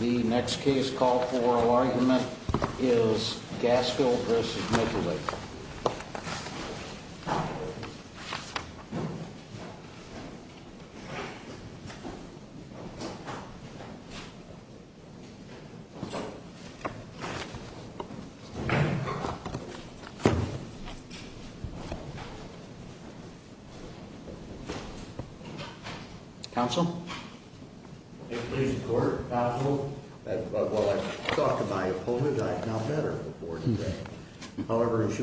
The next case call for argument is Gasco versus Megalith. The case is Gasco versus Megalith.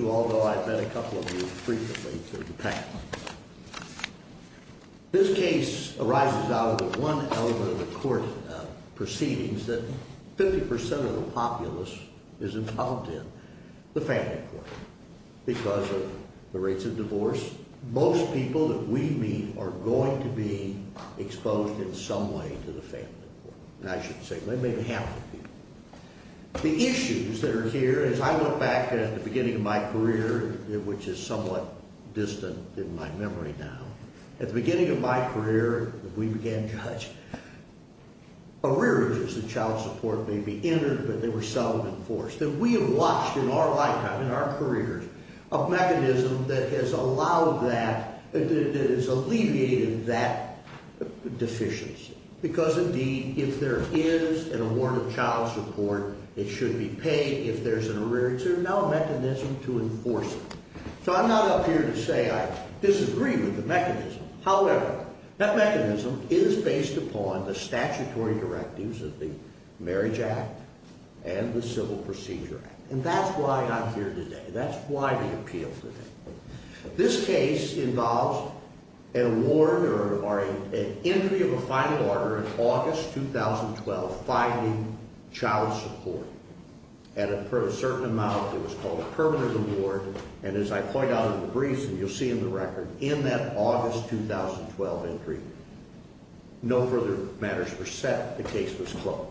Although I've met a couple of you frequently through the past. This case arises out of one element of the court proceedings that 50% of the populace is involved in, the family court. Because of the rates of divorce, most people that we meet are going to be exposed in some way to the family court. And I should say, maybe half of you. The issues that are here, as I look back at the beginning of my career, which is somewhat distant in my memory now. At the beginning of my career, we began to judge arrearages that child support may be entered, but they were seldom enforced. And we have watched in our lifetime, in our careers, a mechanism that has allowed that, that has alleviated that deficiency. Because indeed, if there is an award of child support, it should be paid if there's an arrearage. There's now a mechanism to enforce it. So I'm not up here to say I disagree with the mechanism. However, that mechanism is based upon the statutory directives of the Marriage Act and the Civil Procedure Act. And that's why I'm here today. That's why the appeal today. This case involves an award or an entry of a final order in August 2012, finding child support at a certain amount. It was called a permanent award. And as I point out in the briefs, and you'll see in the record, in that August 2012 entry, no further matters were set. The case was closed.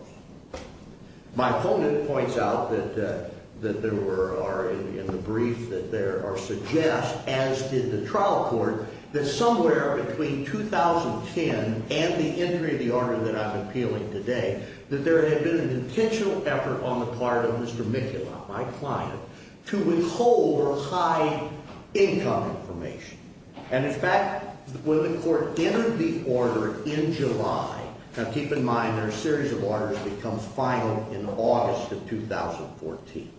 My opponent points out that there were, or in the brief that there are suggests, as did the trial court, that somewhere between 2010 and the entry of the order that I'm appealing today, that there had been a potential effort on the part of Mr. Micula, my client, to withhold or hide income information. And in fact, when the court entered the order in July, now keep in mind there are a series of orders that become final in August of 2014.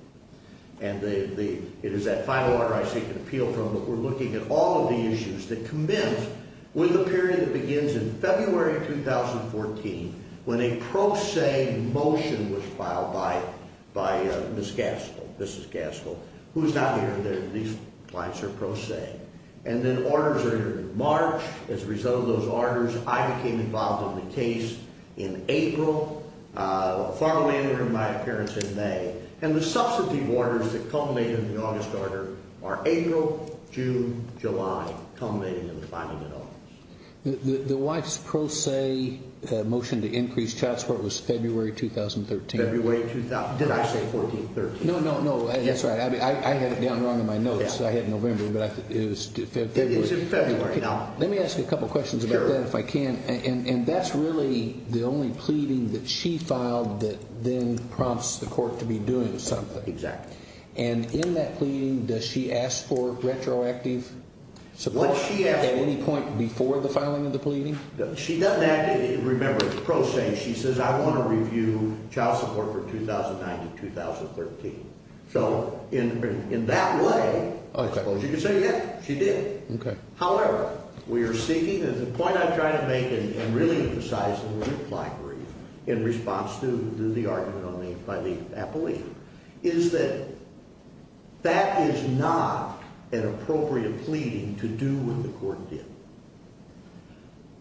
And it is that final order I seek an appeal from that we're looking at all of the issues that commence with the period that begins in February of 2014 when a pro se motion was filed by Ms. Gaskell, Mrs. Gaskell, who is not here today. These clients are pro se. And then orders are entered in March. As a result of those orders, I became involved in the case in April. Farmland entered my appearance in May. And the substantive orders that culminate in the August order are April, June, July, culminating in the final order. The wife's pro se motion to increase child support was February 2013. February 2013. Did I say 1413? No, no, no. That's right. I had it down wrong in my notes. I had November, but it was February. It is in February. Let me ask you a couple questions about that if I can. And that's really the only pleading that she filed that then prompts the court to be doing something. Exactly. And in that pleading, does she ask for retroactive support at any point before the filing of the pleading? She doesn't ask it. Remember, pro se. She says, I want to review child support for 2009 to 2013. So in that way, you can say, yeah, she did. Okay. However, we are seeking, and the point I'm trying to make, and really emphasizing the reply brief in response to the argument by the appellee, is that that is not an appropriate pleading to do what the court did.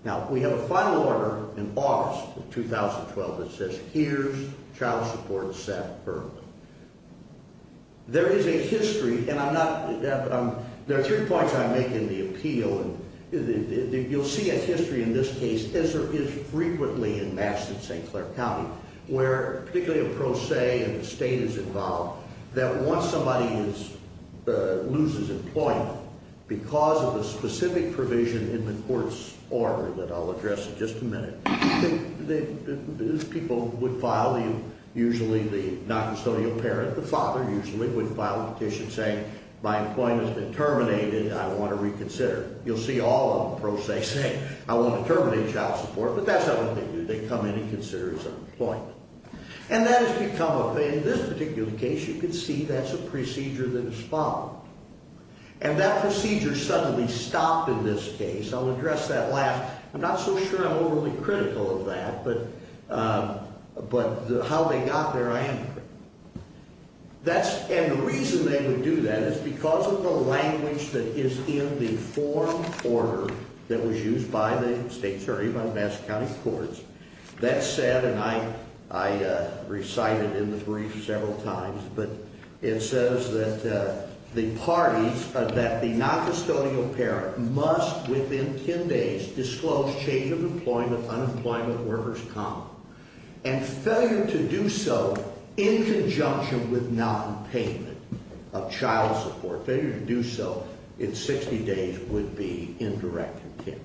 Now, we have a final order in August of 2012 that says, here's child support in September. There is a history, and I'm not, there are three points I make in the appeal, and you'll see a history in this case, as there is frequently in Mass in St. Clair County, where particularly a pro se and the state is involved, that once somebody loses employment, because of a specific provision in the court's order that I'll address in just a minute, people would file, usually the noncustodial parent, the father, usually would file a petition saying, my employment has been terminated, and I want to reconsider. You'll see all the pro se say, I want to terminate child support, but that's not what they do. They come in and consider some employment. And that has become, in this particular case, you can see that's a procedure that is followed. And that procedure suddenly stopped in this case. I'll address that last. I'm not so sure I'm overly critical of that, but how they got there, I am. That's, and the reason they would do that is because of the language that is in the form order that was used by the state, sorry, by Mass County Courts, that said, and I recited in the brief several times, but it says that the parties, that the noncustodial parent must, within 10 days, disclose change of employment, unemployment, workers' common. And failure to do so in conjunction with nonpayment of child support, failure to do so in 60 days would be indirect intent.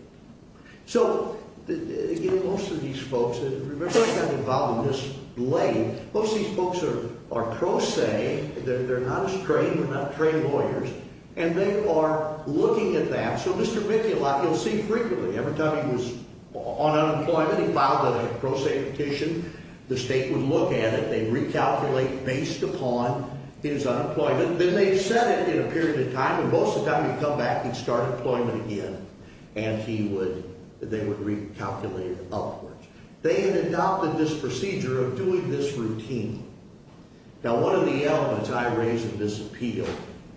So, again, most of these folks, and remember I got involved in this late, most of these folks are pro se. They're not as trained. They're not trained lawyers. And they are looking at that. So Mr. Mikulak, you'll see frequently, every time he was on unemployment, he filed a pro se petition, the state would look at it. They'd recalculate based upon his unemployment. Then they'd set it in a period of time. And most of the time, he'd come back and start employment again. And he would, they would recalculate it upwards. They had adopted this procedure of doing this routine. Now, one of the elements I raised in this appeal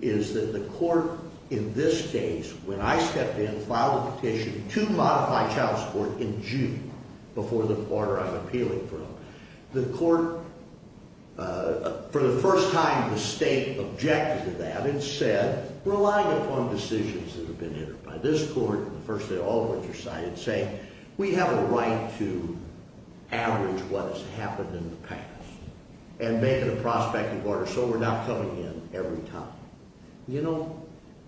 is that the court, in this case, when I stepped in, filed a petition to modify child support in June, before the quarter I'm appealing from, the court, for the first time, the state objected to that and said, relying upon decisions that have been entered by this court, the first thing all the courts decided, say, we have a right to average what has happened in the past and make it a prospective order, so we're not coming in every time. You know,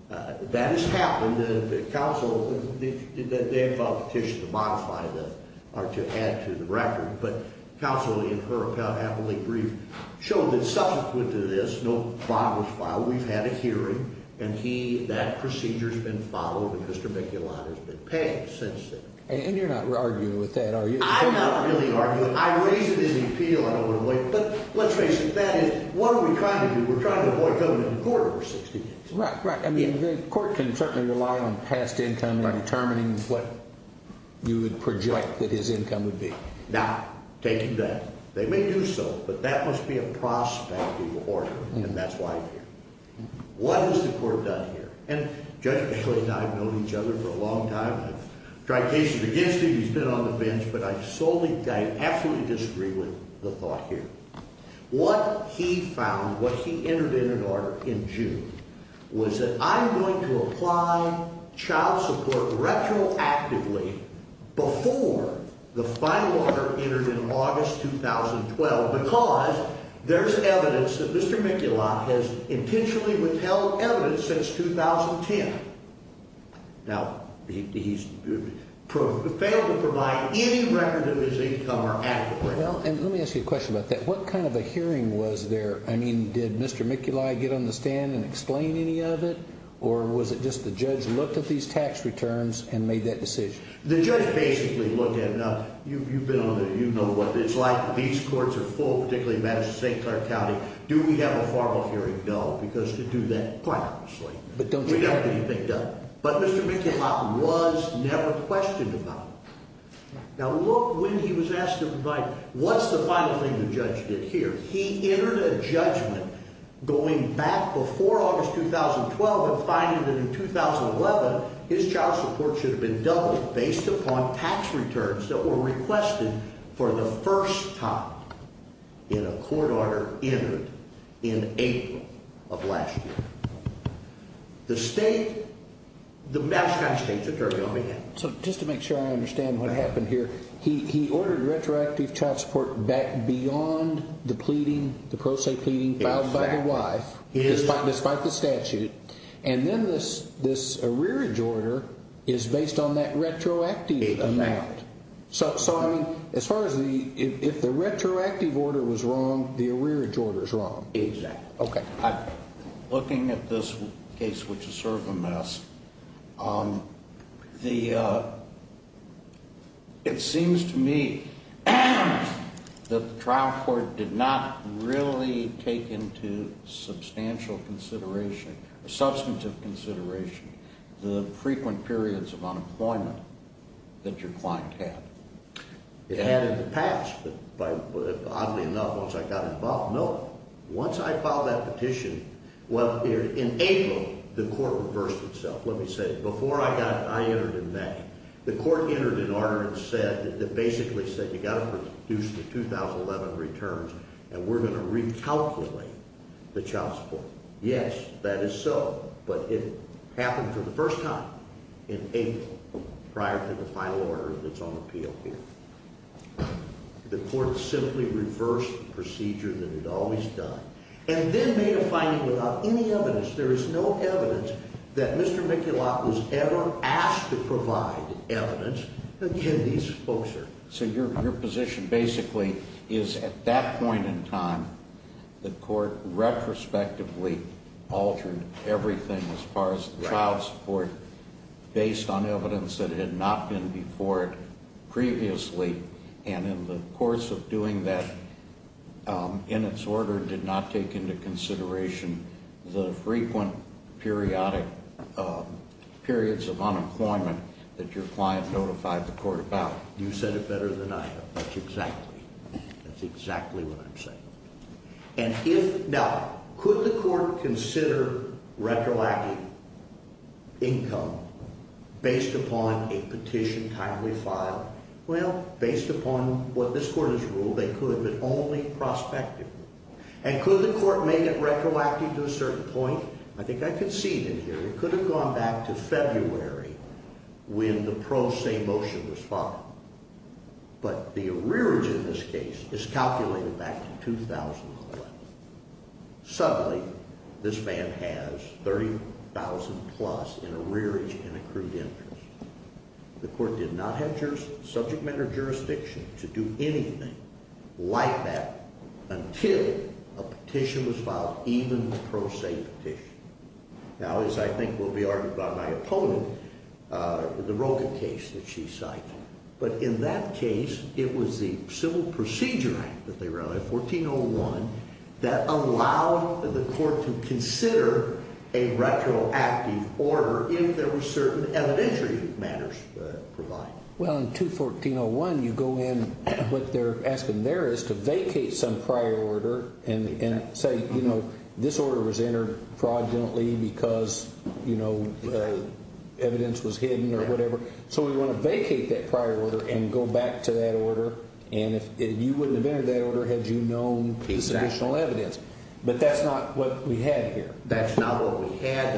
that has happened. The counsel, they filed a petition to modify the, or to add to the record, but counsel in her appellate brief showed that subsequent to this, no bond was filed. We've had a hearing, and he, that procedure's been followed, and Mr. McIntyre's been paid since then. And you're not arguing with that, are you? I'm not really arguing. I raised it in the appeal. I don't want to wait. But let's face it. That is, what are we trying to do? We're trying to avoid coming to court over 60 years. Right, right. I mean, the court can certainly rely on past income in determining what you would project that his income would be. Now, taking that, they may do so, but that must be a prospective order, and that's why I'm here. What has the court done here? And Judge McClain and I have known each other for a long time. I've tried cases against him. He's been on the bench. But I solely, I absolutely disagree with the thought here. What he found, what he entered in an order in June, was that I'm going to apply child support retroactively before the final order entered in August 2012 because there's evidence that Mr. McIntyre has intentionally withheld evidence since 2010. Now, he's failed to provide any record of his income or adequate. Well, and let me ask you a question about that. What kind of a hearing was there? I mean, did Mr. McIntyre get on the stand and explain any of it, or was it just the judge looked at these tax returns and made that decision? The judge basically looked at it. Now, you've been on there. You know what it's like. These courts are full, particularly in Madison State, Clark County. Do we have a formal hearing? No, because to do that, quite honestly, we don't get anything done. But Mr. McIntyre was never questioned about it. Now, look when he was asked to provide, what's the final thing the judge did here? He entered a judgment going back before August 2012 and finding that in 2011 his child support should have been doubled based upon tax returns that were requested for the first time in a court order entered in April of last year. The state, the Madison County states are turning on me now. So just to make sure I understand what happened here, he ordered retroactive child support back beyond the pleading, the pro se pleading filed by the wife despite the statute, and then this arrearage order is based on that retroactive amount. So, I mean, as far as the, if the retroactive order was wrong, the arrearage order is wrong. Exactly. Okay. Looking at this case, which is sort of a mess, it seems to me that the trial court did not really take into substantial consideration, the frequent periods of unemployment that your client had. It had in the past, but oddly enough, once I got involved, no. Once I filed that petition, well, in April, the court reversed itself. Let me say it. Before I got, I entered in that. The court entered an order and said, it basically said you've got to reduce the 2011 returns and we're going to recalculate the child support. Yes, that is so. But it happened for the first time in April prior to the final order that's on appeal here. The court simply reversed the procedure that it had always done and then made a finding without any evidence. There is no evidence that Mr. Mikulak was ever asked to provide evidence. Again, these folks are. So your position basically is at that point in time, the court retrospectively altered everything as far as the child support based on evidence that had not been before it previously, and in the course of doing that, in its order, did not take into consideration the frequent periods of unemployment that your client notified the court about. You said it better than I have. That's exactly what I'm saying. Now, could the court consider retroacting income based upon a petition timely file? Well, based upon what this court has ruled, they could, but only prospectively. And could the court make it retroactive to a certain point? I think I can see it in here. It could have gone back to February when the pro se motion was filed. But the arrearage in this case is calculated back to 2011. Suddenly, this man has $30,000 plus in arrearage and accrued interest. The court did not have subject matter jurisdiction to do anything like that until a petition was filed, even the pro se petition. Now, as I think will be argued by my opponent, the Rogin case that she cited. But in that case, it was the Civil Procedure Act that they wrote in 1401 that allowed the court to consider a retroactive order if there were certain evidentiary matters provided. Well, in 214.01, you go in. What they're asking there is to vacate some prior order and say, you know, this order was entered fraudulently because, you know, evidence was hidden or whatever. So we want to vacate that prior order and go back to that order. And if you wouldn't have entered that order had you known the additional evidence. But that's not what we had here. That's not what we had.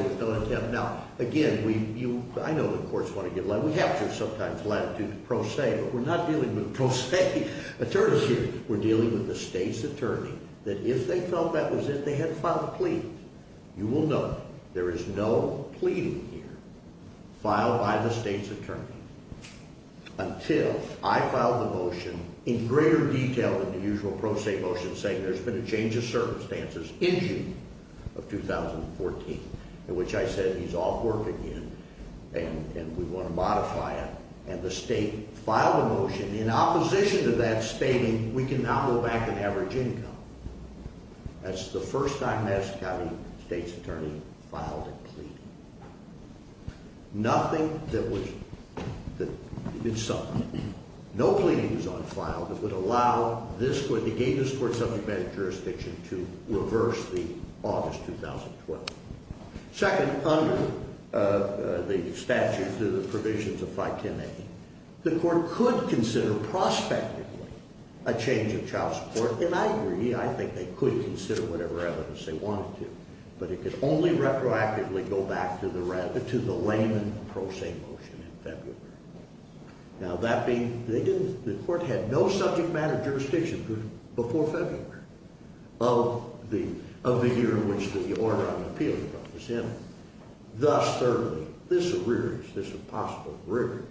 Now, again, I know the courts want to get a lot. We have to sometimes latitude pro se. But we're not dealing with pro se attorneys here. We're dealing with the state's attorney that if they felt that was it, they had to file a plea. You will know there is no pleading here filed by the state's attorney until I filed the motion in greater detail than the usual pro se motion saying there's been a change of circumstances in June of 2014 in which I said he's off work again and we want to modify it. And the state filed a motion in opposition to that stating we can now go back to average income. That's the first time Madison County state's attorney filed a plea. Nothing that was in some way. No pleading was on file that would allow this court, the Davis Court Subject Matters jurisdiction to reverse the August 2012. Second, under the statute, the provisions of 510A, the court could consider prospectively a change of child support. And I agree. I think they could consider whatever evidence they wanted to. But it could only retroactively go back to the layman pro se motion in February. Now, the court had no subject matter jurisdiction before February of the year in which the order on appeal was in. And thus, thirdly, this arrearage, this possible arrearage,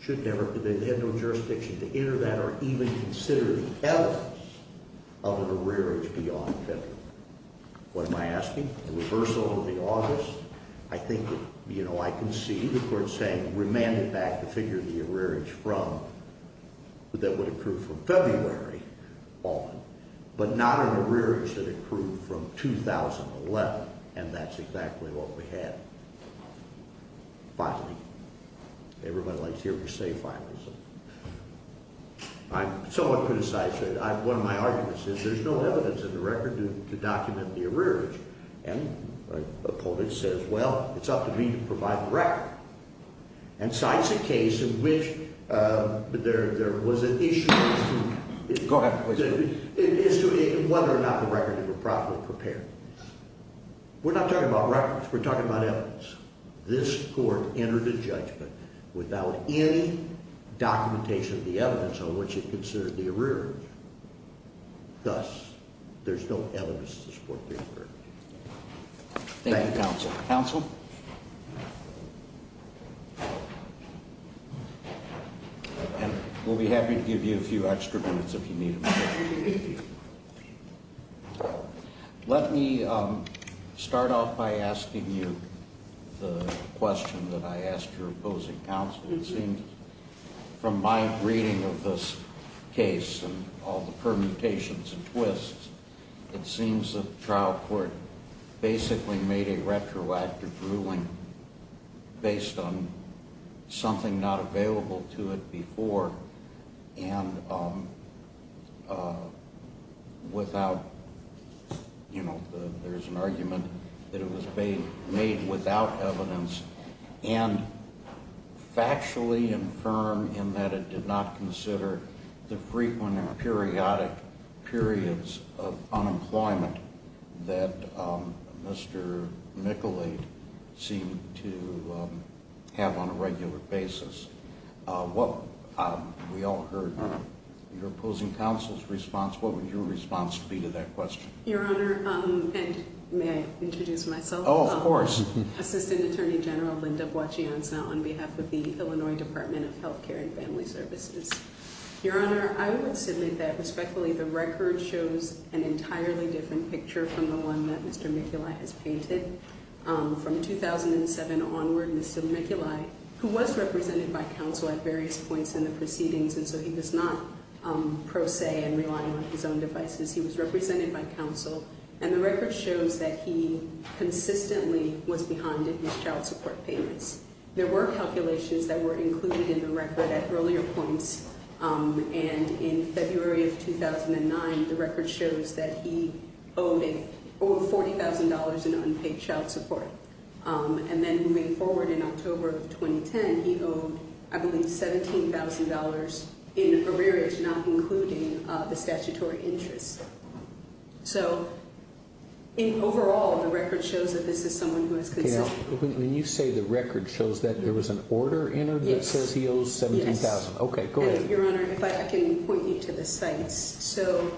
should never have had no jurisdiction to enter that or even consider the evidence of an arrearage beyond February. What am I asking? A reversal of the August? I think, you know, I can see the court saying remand it back, the figure of the arrearage from, that would accrue from February on, but not an arrearage that accrued from 2011. And that's exactly what we had. Finally, everybody likes to hear me say finally. I'm somewhat criticized. One of my arguments is there's no evidence in the record to document the arrearage. And the public says, well, it's up to me to provide the record. And so that's a case in which there was an issue. Go ahead, please. It's whether or not the record was properly prepared. We're not talking about records. We're talking about evidence. This court entered a judgment without any documentation of the evidence on which it considered the arrearage. Thus, there's no evidence to support the arrearage. Thank you, counsel. Counsel? And we'll be happy to give you a few extra minutes if you need them. Let me start off by asking you the question that I asked your opposing counsel. It seems from my reading of this case and all the permutations and twists, it seems the trial court basically made a retroactive ruling based on something not available to it before and without, you know, there's an argument that it was made without evidence and factually infirm in that it did not consider the frequent and periodic periods of unemployment that Mr. Michelate seemed to have on a regular basis. We all heard your opposing counsel's response. What would your response be to that question? Your Honor, and may I introduce myself? Oh, of course. Assistant Attorney General Linda Buocchianza on behalf of the Illinois Department of Health Care and Family Services. Your Honor, I would submit that, respectfully, the record shows an entirely different picture from the one that Mr. Michelate has painted. From 2007 onward, Mr. Michelate, who was represented by counsel at various points in the proceedings and so he does not pro se and rely on his own devices, he was represented by counsel, and the record shows that he consistently was behind in his child support payments. There were calculations that were included in the record at earlier points, and in February of 2009, the record shows that he owed $40,000 in unpaid child support. And then moving forward in October of 2010, he owed, I believe, $17,000 in arrearage, not including the statutory interest. So, in overall, the record shows that this is someone who is consistent. When you say the record shows that, there was an order entered that says he owes $17,000? Yes. Okay, go ahead. Your Honor, if I can point you to the sites. So,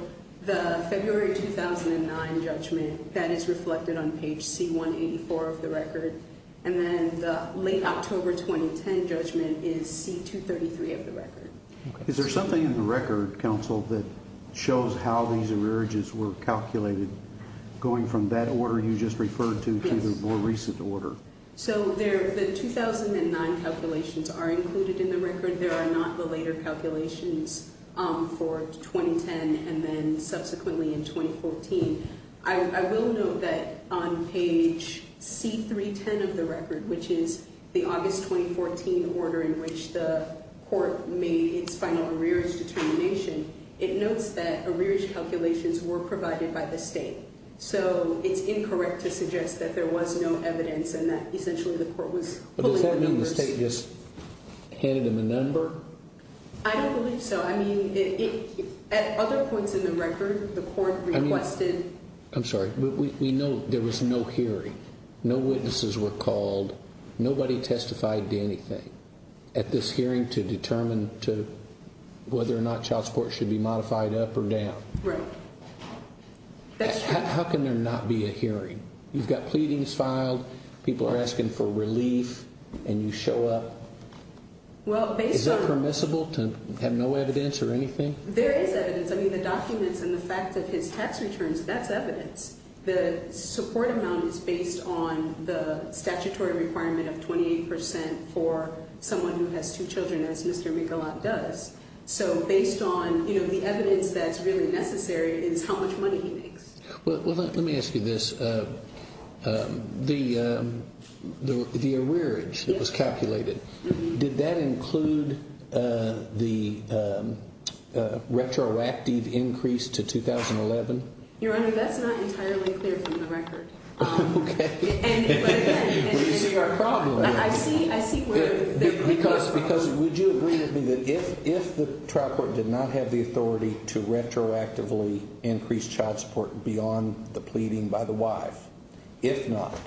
the February 2009 judgment, that is reflected on page C184 of the record, and then the late October 2010 judgment is C233 of the record. Is there something in the record, counsel, that shows how these arrearages were calculated, going from that order you just referred to to the more recent order? Yes. So, the 2009 calculations are included in the record. There are not the later calculations for 2010 and then subsequently in 2014. I will note that on page C310 of the record, which is the August 2014 order in which the court made its final arrearage determination, it notes that arrearage calculations were provided by the state. So, it's incorrect to suggest that there was no evidence and that essentially the court was pulling the numbers. Does that mean the state just handed them a number? I don't believe so. I mean, at other points in the record, the court requested. I'm sorry. We know there was no hearing. No witnesses were called. Nobody testified to anything at this hearing to determine whether or not child support should be modified up or down. Right. How can there not be a hearing? You've got pleadings filed. People are asking for relief, and you show up. Is it permissible to have no evidence or anything? There is evidence. I mean, the documents and the fact that his tax returns, that's evidence. The support amount is based on the statutory requirement of 28% for someone who has two children, as Mr. McAuliffe does. So, based on the evidence that's really necessary is how much money he makes. Well, let me ask you this. The arrearage that was calculated, did that include the retroactive increase to 2011? Your Honor, that's not entirely clear from the record. Okay. But, again, there's a problem there. I see where the complaint comes from. Because would you agree with me that if the trial court did not have the authority to retroactively increase child support beyond the pleading by the wife, if not,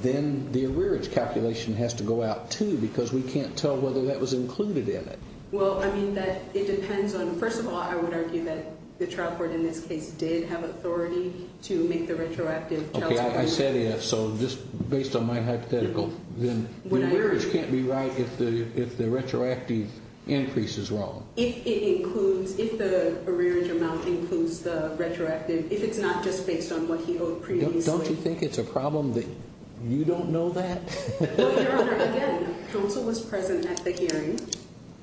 then the arrearage calculation has to go out, too, because we can't tell whether that was included in it. Well, I mean, it depends on, first of all, I would argue that the trial court in this case did have authority to make the retroactive child support increase. I said if, so just based on my hypothetical, then the arrearage can't be right if the retroactive increase is wrong. If it includes, if the arrearage amount includes the retroactive, if it's not just based on what he owed previously. Don't you think it's a problem that you don't know that? Well, Your Honor, again, counsel was present at the hearing,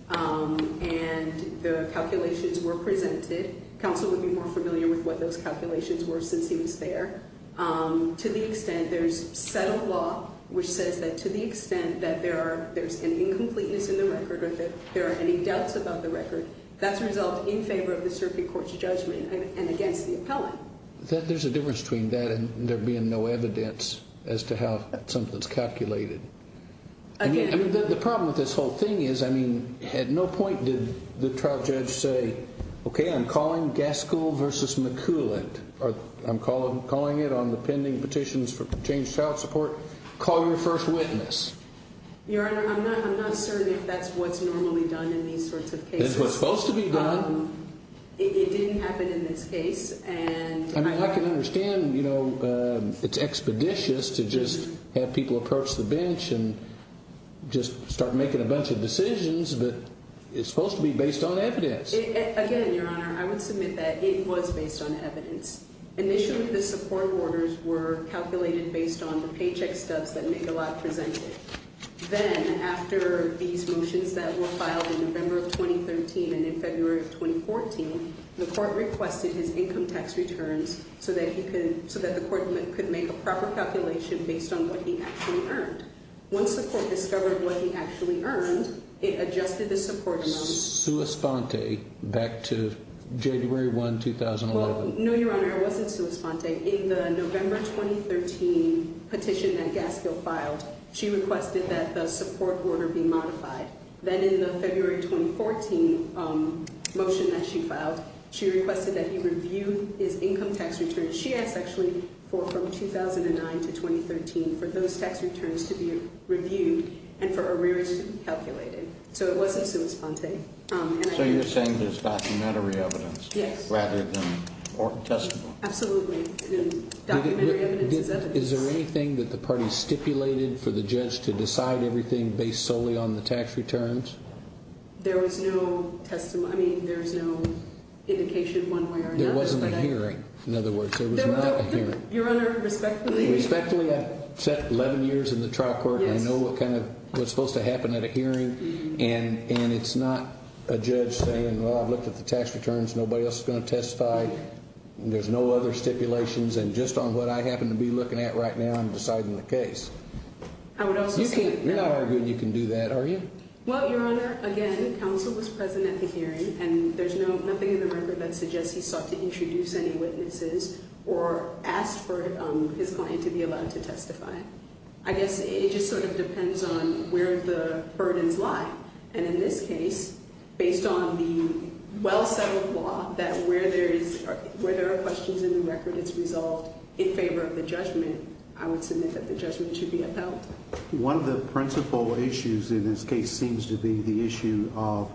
and the calculations were presented. Counsel would be more familiar with what those calculations were since he was there. To the extent there's settled law which says that to the extent that there's an incompleteness in the record or that there are any doubts about the record, that's resolved in favor of the circuit court's judgment and against the appellant. There's a difference between that and there being no evidence as to how something's calculated. I mean, the problem with this whole thing is, I mean, at no point did the trial judge say, okay, I'm calling Gaskell versus McCulloch. I'm calling it on the pending petitions for changed child support. Call your first witness. Your Honor, I'm not certain if that's what's normally done in these sorts of cases. It's what's supposed to be done. It didn't happen in this case. I mean, I can understand, you know, it's expeditious to just have people approach the bench and just start making a bunch of decisions, but it's supposed to be based on evidence. Again, Your Honor, I would submit that it was based on evidence. Initially, the support orders were calculated based on the paycheck stubs that Megalod presented. Then, after these motions that were filed in November of 2013 and in February of 2014, the court requested his income tax returns so that the court could make a proper calculation based on what he actually earned. Once the court discovered what he actually earned, it adjusted the support amount. Sua Sponte, back to January 1, 2011. Well, no, Your Honor, it wasn't Sua Sponte. In the November 2013 petition that Gaskill filed, she requested that the support order be modified. Then, in the February 2014 motion that she filed, she requested that he review his income tax returns. She asked, actually, for from 2009 to 2013 for those tax returns to be reviewed and for arrears to be calculated. So, it wasn't Sua Sponte. So, you're saying there's documentary evidence rather than court testimony? Absolutely. Documentary evidence is evidence. Is there anything that the party stipulated for the judge to decide everything based solely on the tax returns? There was no testimony. I mean, there's no indication one way or another. There wasn't a hearing. In other words, there was not a hearing. Your Honor, respectfully. Respectfully, I've sat 11 years in the trial court. I know what's supposed to happen at a hearing, and it's not a judge saying, well, I've looked at the tax returns. Nobody else is going to testify. There's no other stipulations. And just on what I happen to be looking at right now, I'm deciding the case. You're not arguing you can do that, are you? Well, Your Honor, again, counsel was present at the hearing, and there's nothing in the record that suggests he sought to introduce any witnesses or asked for his client to be allowed to testify. I guess it just sort of depends on where the burdens lie. And in this case, based on the well-settled law that where there are questions in the record, it's resolved in favor of the judgment, I would submit that the judgment should be upheld. One of the principal issues in this case seems to be the issue of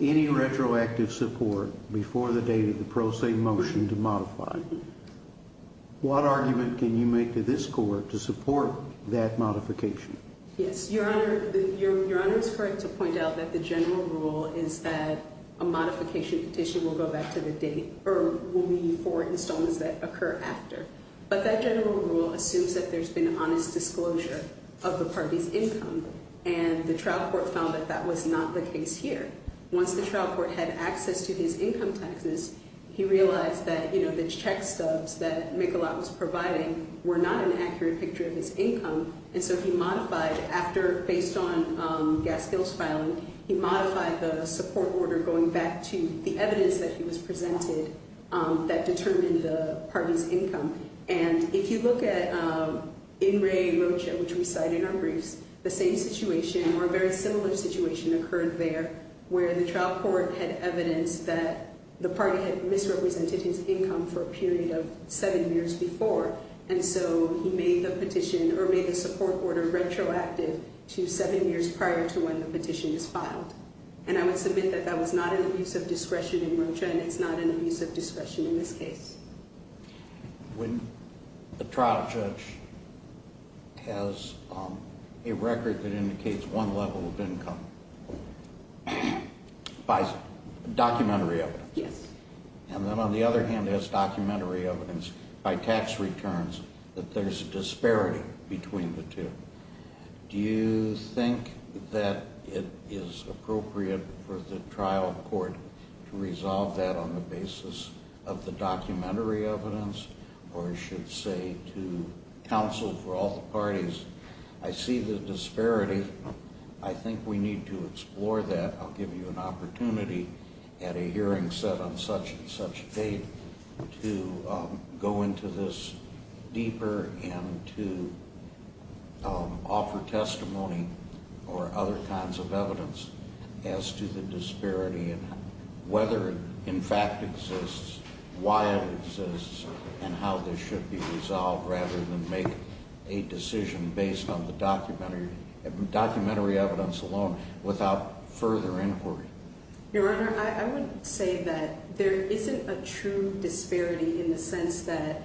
any retroactive support before the date of the pro se motion to modify. What argument can you make to this court to support that modification? Yes, Your Honor, Your Honor is correct to point out that the general rule is that a modification petition will go back to the date or will be for installments that occur after. But that general rule assumes that there's been honest disclosure of the party's income. And the trial court found that that was not the case here. Once the trial court had access to his income taxes, he realized that, you know, the check stubs that Michelot was providing were not an accurate picture of his income. And so he modified after based on Gaskill's filing. He modified the support order going back to the evidence that he was presented that determined the party's income. And if you look at In Re Rocha, which we cite in our briefs, the same situation or a very similar situation occurred there, where the trial court had evidence that the party had misrepresented his income for a period of seven years before. And so he made the petition or made the support order retroactive to seven years prior to when the petition was filed. And I would submit that that was not an abuse of discretion in Rocha and it's not an abuse of discretion in this case. When the trial judge has a record that indicates one level of income, buys documentary evidence. Yes. And then on the other hand has documentary evidence by tax returns that there's a disparity between the two. Do you think that it is appropriate for the trial court to resolve that on the basis of the documentary evidence or should say to counsel for all the parties, I see the disparity. I think we need to explore that. I'll give you an opportunity at a hearing set on such and such date to go into this deeper and to offer testimony or other kinds of evidence as to the disparity and whether it in fact exists, why it exists and how this should be resolved rather than make a decision based on the documentary evidence alone without further inquiry. Your Honor, I would say that there isn't a true disparity in the sense that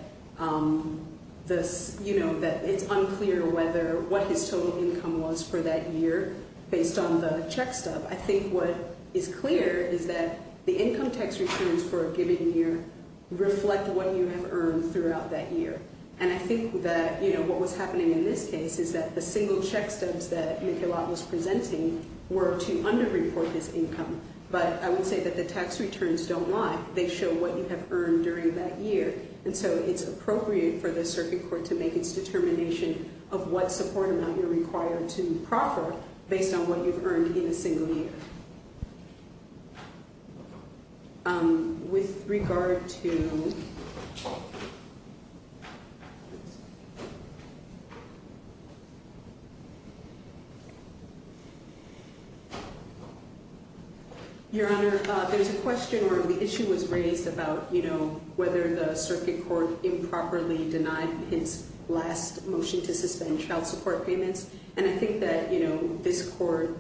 it's unclear what his total income was for that year based on the check stub. I think what is clear is that the income tax returns for a given year reflect what you have earned throughout that year. And I think that what was happening in this case is that the single check stubs that Michelot was presenting were to underreport his income. But I would say that the tax returns don't lie. They show what you have earned during that year. And so it's appropriate for the circuit court to make its determination of what support amount you're required to proffer based on what you've earned in a single year. With regard to... Your Honor, there's a question where the issue was raised about whether the circuit court improperly denied his last motion to suspend child support payments. And I think that this court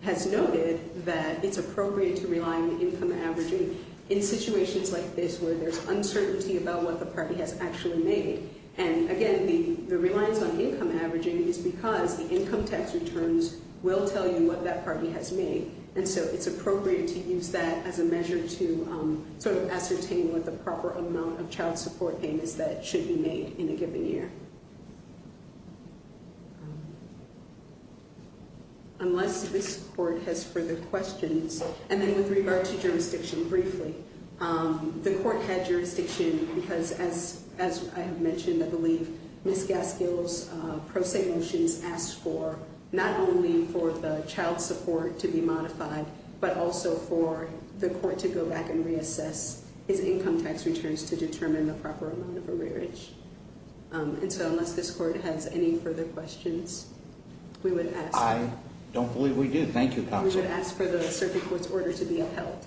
has noted that it's appropriate to rely on the income averaging in situations like this where there's uncertainty about what the party has actually made. And again, the reliance on income averaging is because the income tax returns will tell you what that party has made. And so it's appropriate to use that as a measure to ascertain what the proper amount of child support payments that should be made in a given year. Unless this court has further questions. And then with regard to jurisdiction briefly, the court had jurisdiction because, as I have mentioned, I believe Ms. Gaskill's pro se motions asked for not only for the child support to be modified, but also for the court to go back and reassess its income tax returns to determine the proper amount of arrearage. And so unless this court has any further questions, we would ask... I don't believe we do. Thank you, counsel. We would ask for the circuit court's order to be upheld.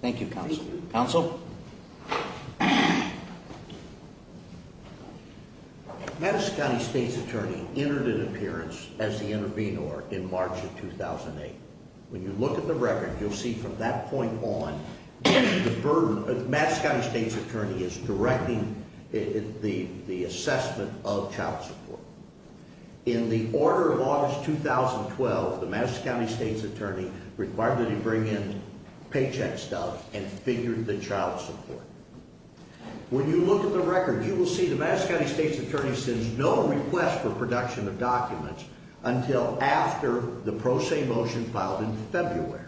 Thank you, counsel. Thank you. Counsel? Madison County State's attorney entered an appearance as the intervenor in March of 2008. When you look at the record, you'll see from that point on, Madison County State's attorney is directing the assessment of child support. In the order of August 2012, the Madison County State's attorney required that he bring in paycheck stuff and figure the child support. When you look at the record, you will see the Madison County State's attorney sends no request for production of documents until after the pro se motion filed in February,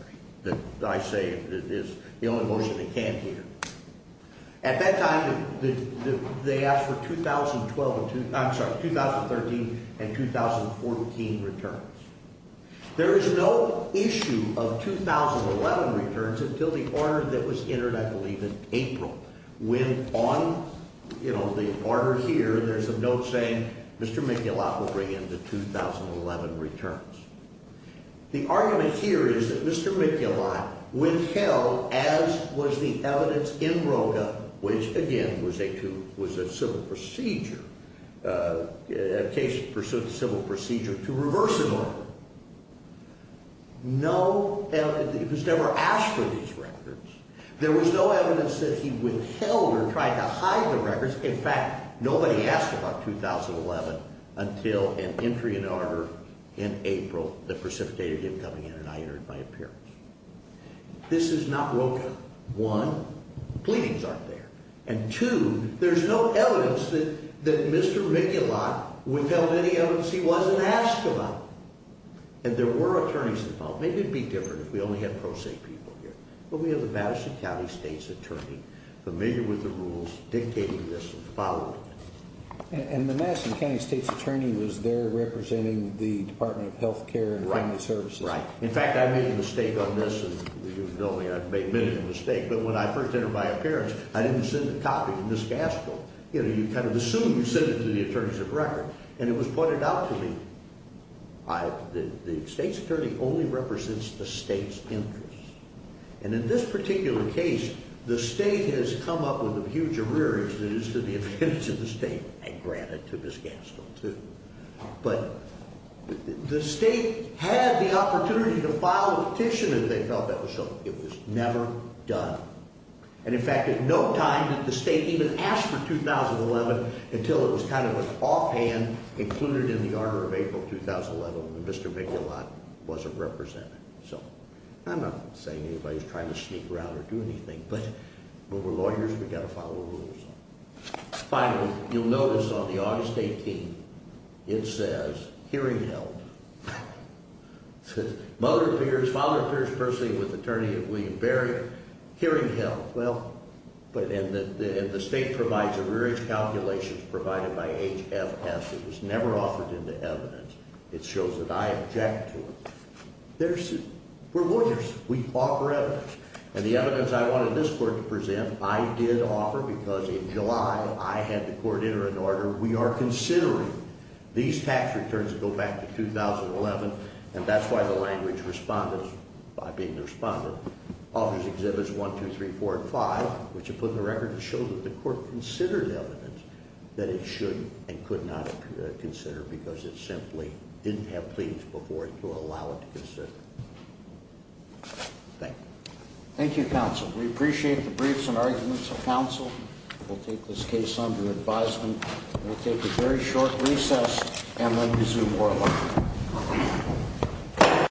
that I say is the only motion they can't hear. At that time, they asked for 2013 and 2014 returns. There is no issue of 2011 returns until the order that was entered, I believe, in April. When on the order here, there's a note saying Mr. Miculot will bring in the 2011 returns. The argument here is that Mr. Miculot withheld, as was the evidence in Roga, which, again, was a civil procedure, a case in pursuit of civil procedure, to reverse an order. No, it was never asked for these records. There was no evidence that he withheld or tried to hide the records. In fact, nobody asked about 2011 until an entry in order in April that precipitated him coming in and I entered my appearance. This is not Roga. One, pleadings aren't there. And two, there's no evidence that Mr. Miculot withheld any evidence he wasn't asked about. And there were attorneys involved. Maybe it would be different if we only had pro se people here. But we have the Madison County State's attorney familiar with the rules dictating this and following it. And the Madison County State's attorney was there representing the Department of Health Care and Family Services? Right. In fact, I made a mistake on this, and you know me, I've made many a mistake, but when I first entered my appearance, I didn't send a copy to Ms. Gaskell. You kind of assume you send it to the attorneys of record, and it was pointed out to me. The State's attorney only represents the State's interest. And in this particular case, the State has come up with a huge arrearage that is to the advantage of the State, and granted to Ms. Gaskell too. But the State had the opportunity to file a petition, and they felt that was something that was never done. And in fact, at no time did the State even ask for 2011 until it was kind of an offhand included in the order of April 2011, and Mr. Migulot wasn't represented. So I'm not saying anybody's trying to sneak around or do anything, but we're lawyers, we've got to follow the rules. Finally, you'll notice on the August 18th, it says, hearing held. It says, mother appears, father appears personally with attorney of William Berry. Hearing held. Well, and the State provides arrearage calculations provided by HFS. It was never offered into evidence. It shows that I object to it. We're lawyers. We offer evidence. And the evidence I wanted this Court to present, I did offer because in July, I had the Court enter an order. We are considering these tax returns that go back to 2011, and that's why the language respondents, by being the responder, offers Exhibits 1, 2, 3, 4, and 5, which it put in the record to show that the Court considered evidence that it should and could not consider because it simply didn't have pleadings before it to allow it to consider. Thank you. Thank you, Counsel. We appreciate the briefs and arguments of Counsel. We'll take this case under advisement. We'll take a very short recess and then resume oral argument.